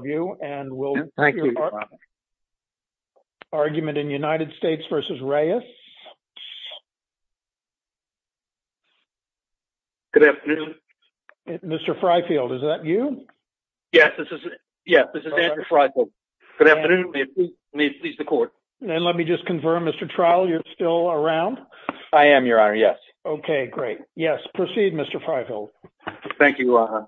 Mr. Freifeld, is that you? Yes, this is Andrew Freifeld. Good afternoon, may it please the court. And let me just confirm, Mr. Trowell, you're still around? I am, your honor, yes. Okay, great. Yes, proceed, Mr. Freifeld. Thank you, your honor.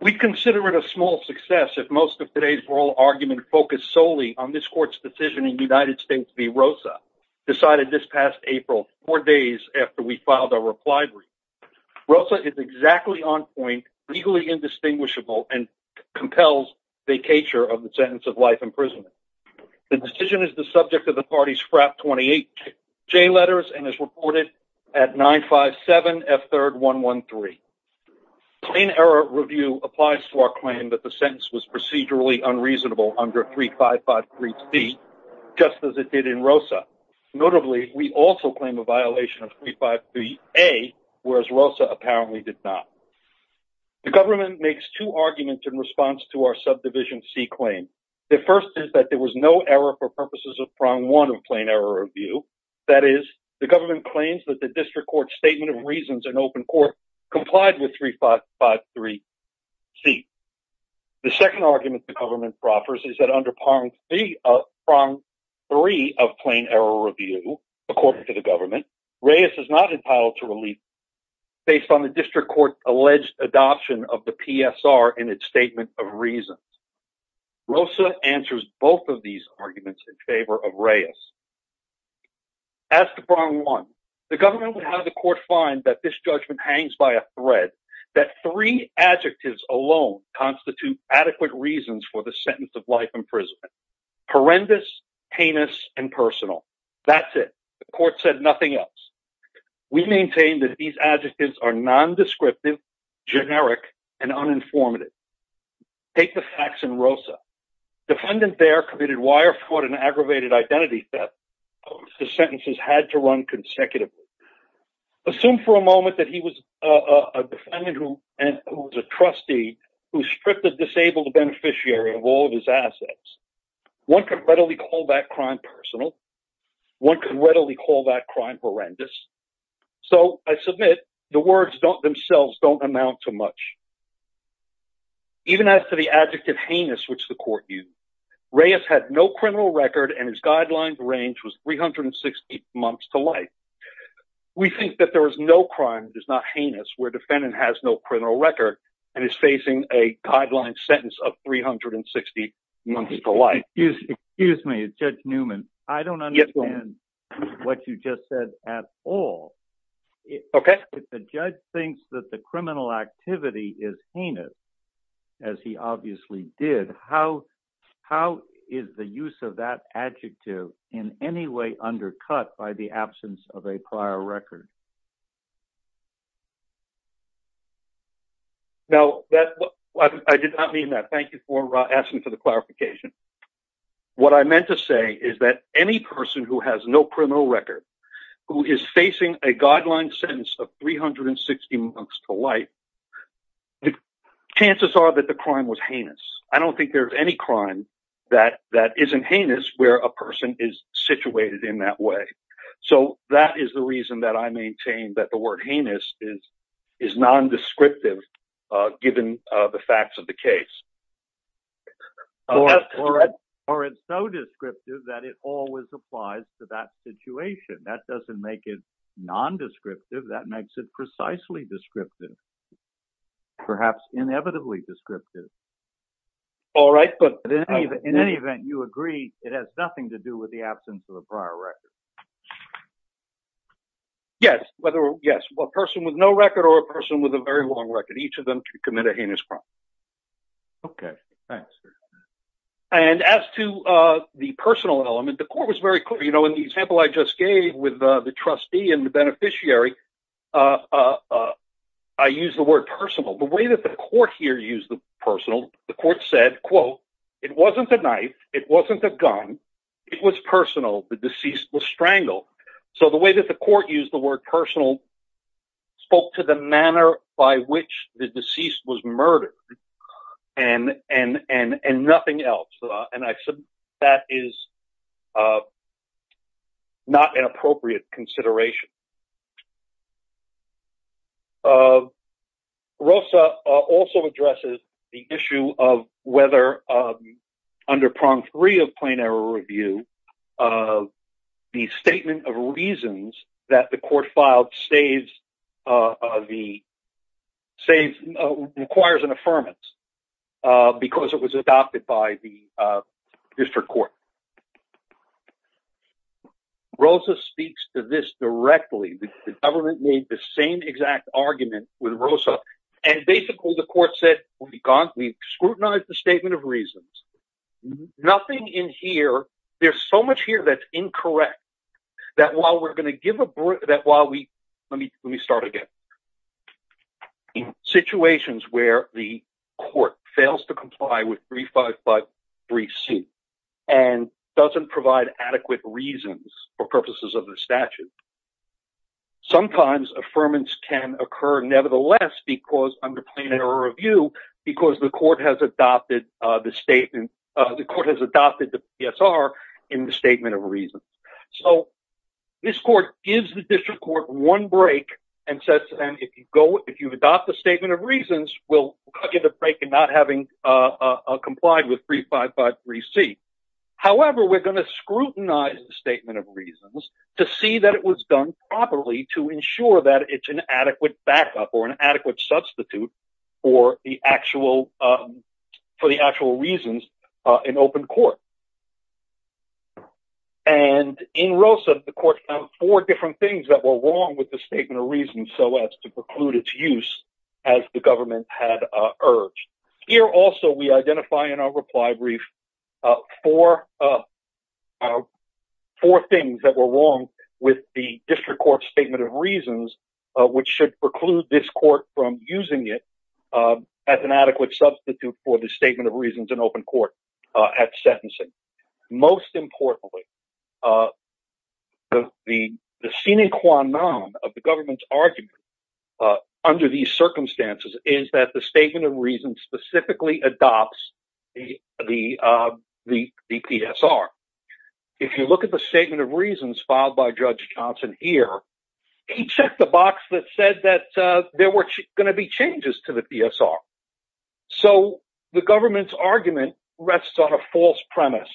We consider it a small success if most of today's oral argument focused solely on this court's decision in United States v. Rosa, decided this past April, four days after we filed our reply brief. Rosa is exactly on point, legally indistinguishable, and compels vacatur of the sentence of life imprisonment. The decision is the subject of the party's FRAP 28J letters and is reported at 957 F3rd 113. Plain error review applies to our claim that the sentence was procedurally unreasonable under 355 3C, just as it did in Rosa. Notably, we also claim a violation of 353 A, whereas Rosa apparently did not. The government makes two arguments in response to our subdivision C claim. The first is that there was no error for purposes of prong one of plain error review. That is, the government claims that the district court's statement of reasons in open court complied with 355 3C. The second argument the government proffers is that under prong three of plain error review, according to the government, Reyes is not entitled to relief based on the district court's alleged adoption of the PSR in its statement of reasons. Rosa answers both of these arguments in favor of Reyes. As to prong one, the government would have the court find that this judgment hangs by a thread, that three adjectives alone constitute adequate reasons for the sentence of life imprisonment. Horrendous, heinous, and personal. That's it. The court said nothing else. We maintain that these adjectives are nondescriptive, generic, and uninformative. Take the facts in Rosa. Defendant Baer committed wire fraud and aggravated identity theft. The sentences had to run consecutively. Assume for a moment that he was a defendant who was a trustee who stripped a disabled beneficiary of all of his assets. One could readily call that crime personal. One could readily call that crime horrendous. So I submit the words themselves don't amount to much. Even as to the adjective heinous, which the court used, Reyes had no criminal record and his guidelines range was 360 months to life. We think that there is no crime that is not heinous where defendant has no criminal record and is facing a guideline sentence of 360 months to life. Excuse me, Judge Newman. I don't understand what you just said at all. If the judge thinks that the criminal activity is heinous, as he obviously did, how is the use of that adjective in any way undercut by the absence of a prior record? Now, I did not mean that. Thank you for asking for the clarification. What I meant to say is that any person who has no criminal record who is facing a guideline sentence of 360 months to life, chances are that the crime was heinous. I don't think there's any crime that isn't heinous where a person is situated in that way. So that is the reason that I maintain that the word heinous is nondescriptive given the facts of the case. Or it's so descriptive that it always applies to that situation. That doesn't make it nondescriptive. That makes it precisely descriptive, perhaps inevitably descriptive. All right. But in any event, you agree it has nothing to do with the absence of a prior record. Yes. Whether, yes, a person with no record or a person with a very long record, each of them could commit a heinous crime. Okay. Thanks. And as to the personal element, the court was very clear. You know, in the example I just gave with the trustee and the beneficiary, I used the word personal. The way that the court here used the personal, the court said, quote, it wasn't a knife. It wasn't a gun. It was personal. The deceased was strangled. So the way that the court used the word personal spoke to the manner by which the deceased was murdered and nothing else. And I said that is not an appropriate consideration. Rosa also addresses the issue of whether under prong three of plain error review, uh, the statement of reasons that the court filed stays, uh, the save, uh, requires an affirmance, uh, because it was adopted by the, uh, district court. Rosa speaks to this directly. The government made the same exact argument with Rosa, and basically the court said, we've gone, we've scrutinized the statement of reasons. Nothing in here. There's so much here. That's incorrect. That while we're going to give a break that while we, let me, let me start again in situations where the court fails to comply with three, five, five, three C and doesn't provide adequate reasons for purposes of the statute. Sometimes affirmance can occur. Nevertheless, because under plain error review, because the court has adopted, uh, the statement of the court has adopted the PSR in the statement of reasons. So this court gives the district court one break and says to them, if you go, if you adopt the statement of reasons, we'll give a break and not having, uh, uh, complied with three, five, five, three C. However, we're going to scrutinize the statement of reasons to see that it was done properly to ensure that it's an adequate backup or an adequate substitute or the actual, um, for the actual reasons, uh, in open court. And in Rosa, the court found four different things that were wrong with the statement of reasons. So as to preclude its use as the government had urged here. Also, we identify in our reply brief, uh, for, uh, uh, four things that were wrong with the district court statement of reasons, uh, which should preclude this court from using it, uh, as an adequate substitute for the statement of reasons in open court, uh, at sentencing. Most importantly, uh, the, the, the scenic one of the government's argument, uh, under these circumstances is that the statement of reasons specifically adopts the, uh, the, the PSR. If you look at the statement of reasons filed by judge Johnson here, he checked the box that said that, uh, there were going to be changes to the PSR. So the government's argument rests on a false premise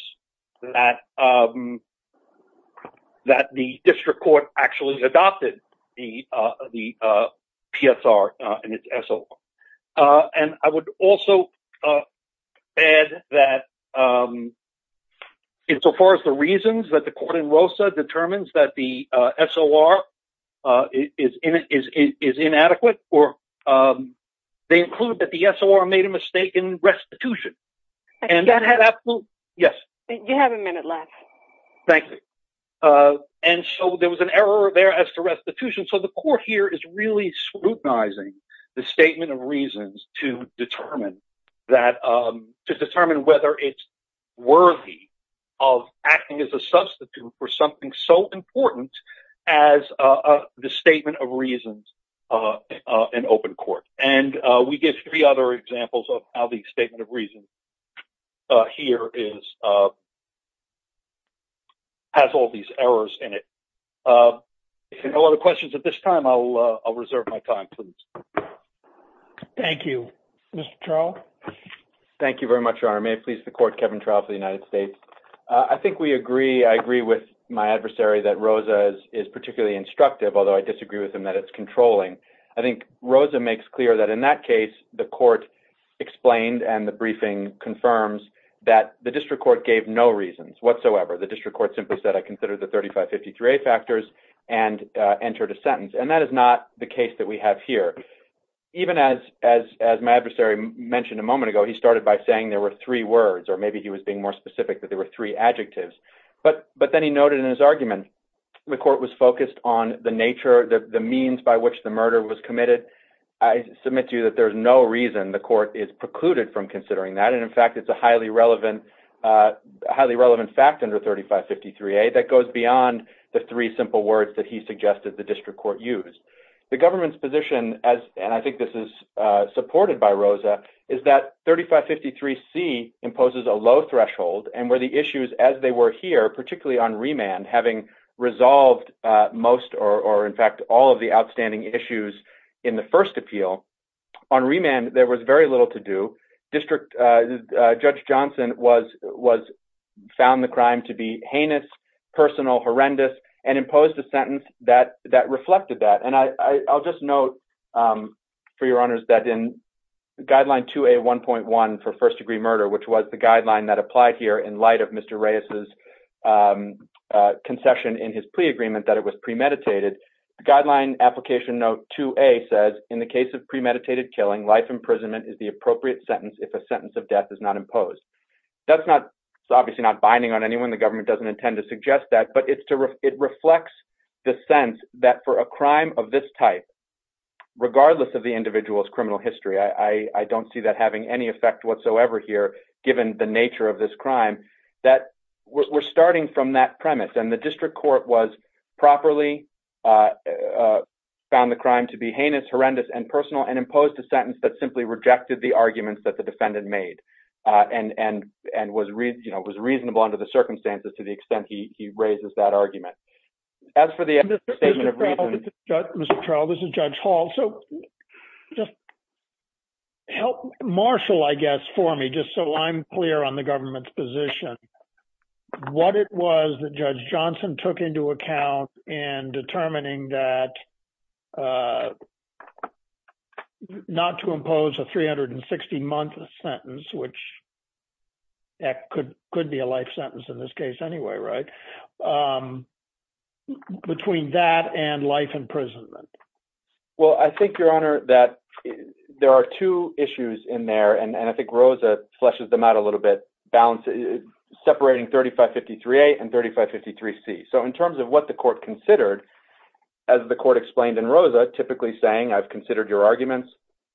that, um, that the district court actually adopted the, uh, the, uh, PSR, uh, and it's SO. Uh, and I would also, uh, add that, um, in so far as the reasons that the court in Rosa determines that the, uh, SOR, uh, is, is, is, is inadequate or, um, they include that the SOR made a mistake in restitution and that had absolute. Yes. You have a minute left. Thank you. Uh, and so there was an error there as to restitution. So the court here is really scrutinizing the statement of reasons to determine that, um, to determine whether it's worthy of acting as a substitute for something so important as, uh, the statement of reasons, uh, uh, in open court. And, uh, we give three other examples of how the statement of reasons, uh, here is, uh, has all these errors in it. Uh, if you have no other questions at this time, I'll, uh, I'll reserve my time, please. Thank you, Mr. Charles. Thank you very much, Your Honor. May it please the court, Kevin Trial for the United States. Uh, I think we agree, I agree with my adversary that Rosa's is particularly instructive, although I disagree with him that it's controlling. I think Rosa makes clear that in that case, the court explained and the briefing confirms that the district court gave no reasons whatsoever. The district court simply said, I consider the 3553A factors and, uh, entered a sentence. And that is not the case that we have here. Even as, as, as my adversary mentioned a moment ago, he started by saying there were three words, or maybe he was being more specific that there were three adjectives, but, but then he noted in his argument, the court was focused on the nature, the, the means by which the murder was committed. I submit to you that there's no reason the court is precluded from considering that. And in fact, it's a highly relevant, uh, highly relevant fact under 3553A that goes beyond the three simple words that he suggested the district court used. The government's position as, and I think this is, uh, supported by Rosa is that 3553C imposes a low threshold and where the issues as they were here, particularly on remand, having resolved, uh, most, or, or in fact, all of the outstanding issues in the first appeal on remand, there was very little to do. District, uh, Judge Johnson was, was found the crime to be heinous, personal, horrendous, and imposed a sentence that, that reflected that. And I, I'll just note, um, for your honors that in guideline 2A1.1 for first degree murder, which was the guideline that applied here in light of Mr. Reyes's, um, uh, concession in his plea agreement that it was premeditated. The guideline application note 2A says in the case of premeditated killing, life imprisonment is the appropriate sentence if a sentence of death is not imposed. That's not, it's obviously not binding on anyone. The government doesn't intend to suggest that, but it's to re it reflects the sense that for a crime of this type, regardless of the individual's criminal history, I, I don't see that having any effect whatsoever here, given the nature of this crime that we're starting from that premise. And the district court was properly, uh, uh, found the crime to be heinous, horrendous, and personal, and imposed a sentence that simply rejected the arguments that the defendant made, uh, and, and, and was re, you know, was reasonable under the circumstances to the extent he raises that argument. As for the Mr. Trowell, this is Judge Hall. So just help marshal, I guess, for me, just so I'm clear on the government's position, what it was that Judge Johnson took into account in determining that uh, not to impose a 360 month sentence, which could, could be a life sentence in this case anyway, right? Um, between that and life imprisonment. Well, I think your honor that there are two issues in there and, and I think Rosa fleshes them out a little bit, balance separating 3553A and 3553C. So in terms of what the court considered, as the court explained in Rosa, typically saying, I've considered your arguments,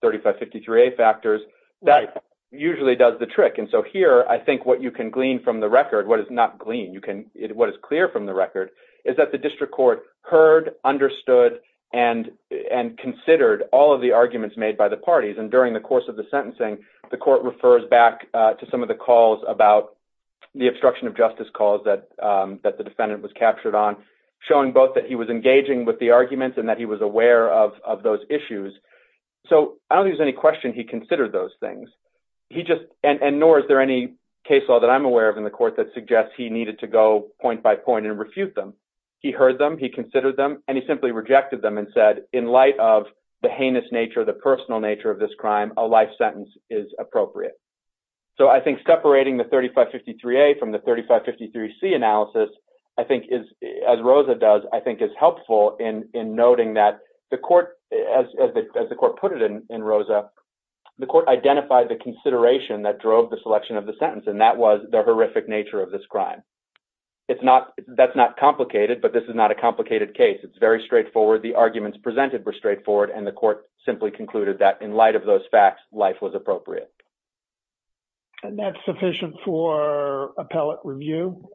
3553A factors, that usually does the trick. And so here, I think what you can glean from the record, what is not glean, you can, what is clear from the record is that the district court heard, understood, and, and considered all of the arguments made by the parties. And during the course of the sentencing, the court refers back to some of the calls about the obstruction of justice calls that, um, that the defendant was captured on showing both that he was engaging with the arguments and that he was aware of, of those issues. So I don't think there's any question he considered those things. He just, and, and nor is there any case law that I'm aware of in the court that suggests he needed to go point by point and refute them. He heard them, he considered them, and he simply rejected them and said, in light of the heinous nature of the personal nature of this crime, a life sentence is appropriate. So I think separating the 3553A from the 3553C analysis, I think is, as Rosa does, I think is helpful in, in noting that the court, as, as the court put it in, in Rosa, the court identified the consideration that drove the selection of the sentence. And that was the horrific nature of this crime. It's not, that's not complicated, but this is not a complicated case. It's very straightforward. The arguments presented were straightforward and the court simply concluded that in light of those facts, life was appropriate. And that's sufficient for appellate review?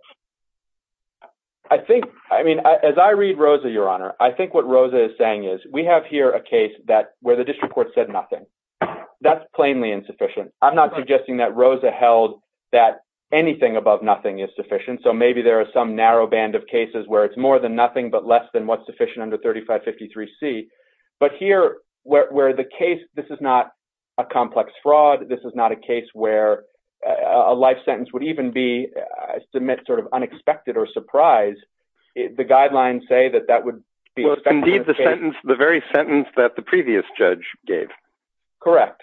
I think, I mean, as I read Rosa, Your Honor, I think what Rosa is saying is we have here a case that where the district court said nothing, that's plainly insufficient. I'm not suggesting that Rosa held that anything above nothing is sufficient. So maybe there are some narrow band of cases where it's more than nothing, but less than what's sufficient under 3553C. But here, where, where the case, this is not a complex fraud. This is not a case where a life sentence would even be, I submit sort of unexpected or surprise. The guidelines say that that would be the sentence, the very sentence that the previous judge gave. Correct.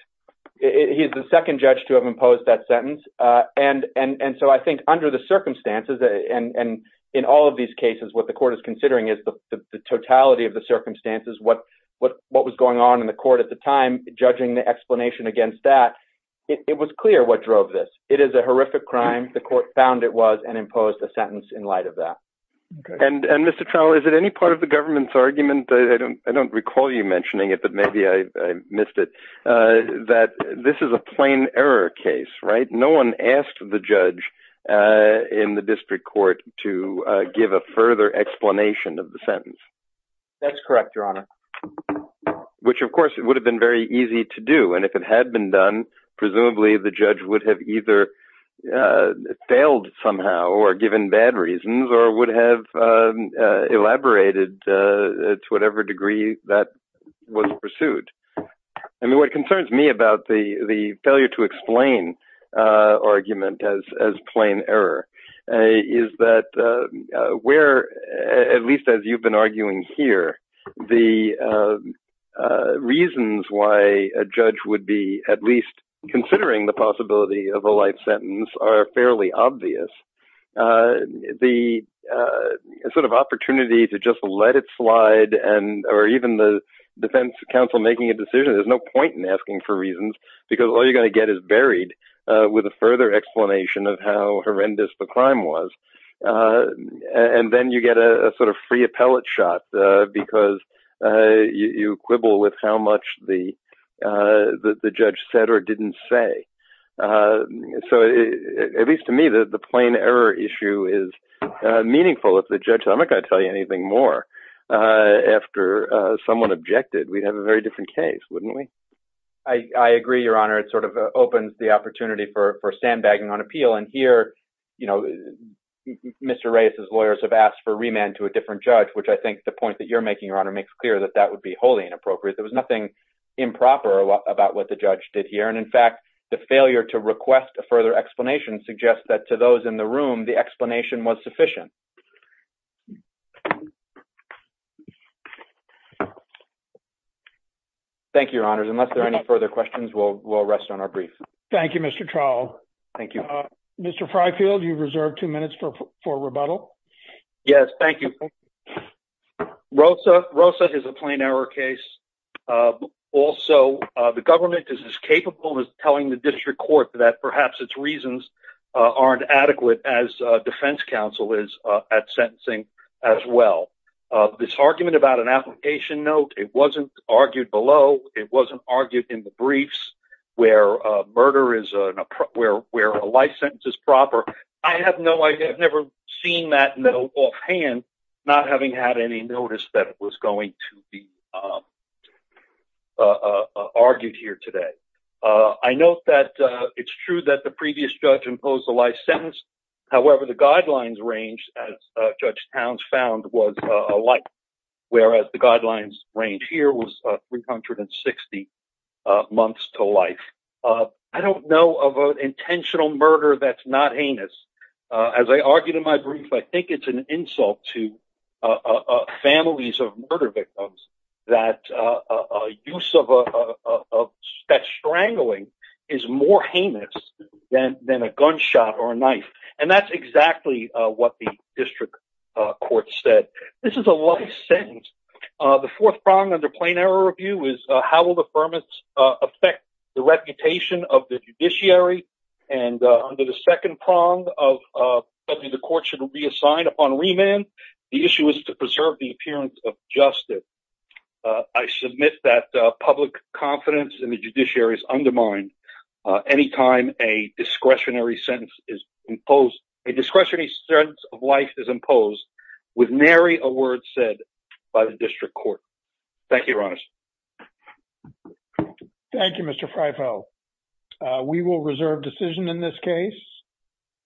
He's the second judge to have imposed that sentence. And, and, and so I think under the circumstances and, and in all of these cases, what the court is considering is the, the totality of the circumstances, what, what, what was going on in the court at the time, judging the explanation against that, it was clear what drove this. It is a horrific crime. The court found it was and imposed a sentence in light of that. And, and Mr. Trowell, is it any part of the government's argument? I don't, I don't recall you mentioning it, but maybe I missed it. That this is a plain error case, right? No one asked the judge in the district court to give a further explanation of the sentence. That's correct, Your Honor. Which of course it would have been very easy to do. And if it had been done, presumably the judge would have either failed somehow or given bad reasons or would have elaborated to whatever degree that was pursued. I mean, what concerns me about the, the failure to explain argument as, as plain error is that where, at least as you've been arguing here, the reasons why a judge would be at least considering the possibility of a light sentence are fairly obvious. The sort of opportunity to just let it slide and, or even the defense counsel making a decision, there's no point in asking for reasons because all you're going to get is buried with a further explanation of how horrendous the and then you get a sort of free appellate shot because you quibble with how much the, the judge said or didn't say. So at least to me, the, the plain error issue is meaningful. If the judge, I'm not going to tell you anything more after someone objected, we'd have a very different case, wouldn't we? I, I agree, Your Honor. It sort of opens the opportunity for, you know, Mr. Reyes's lawyers have asked for remand to a different judge, which I think the point that you're making, Your Honor, makes clear that that would be wholly inappropriate. There was nothing improper about what the judge did here. And in fact, the failure to request a further explanation suggests that to those in the room, the explanation was sufficient. Thank you, Your Honors. Unless there are any further questions, we'll, we'll rest on our brief. Thank you, Mr. Trowell. Thank you. Mr. Freyfield, you reserved two minutes for, for rebuttal. Yes, thank you. Rosa, Rosa is a plain error case. Also, the government is as capable as telling the district court that perhaps its reasons aren't adequate as a defense counsel is at sentencing as well. This argument about an application note, it wasn't argued below. It wasn't argued in the briefs where a murder is, where, where a life sentence is proper. I have no idea. I've never seen that note offhand, not having had any notice that it was going to be argued here today. I note that it's true that the previous judge imposed a life sentence. However, the guidelines range, as Judge Towns found, was a life sentence, whereas the guidelines range here was 360 months to life. I don't know of an intentional murder that's not heinous. As I argued in my brief, I think it's an insult to families of murder victims that use of, that strangling is more heinous than, than a gunshot or a knife. And that's exactly what the under plain error review is. How will the permits affect the reputation of the judiciary? And under the second prong of the court should be assigned upon remand. The issue is to preserve the appearance of justice. I submit that public confidence in the judiciary is undermined. Anytime a discretionary sentence is imposed, a discretionary sentence of life is imposed with nary a word said by the district court. Thank you, Ronis. Thank you, Mr. Freyfeld. We will reserve decision in this case.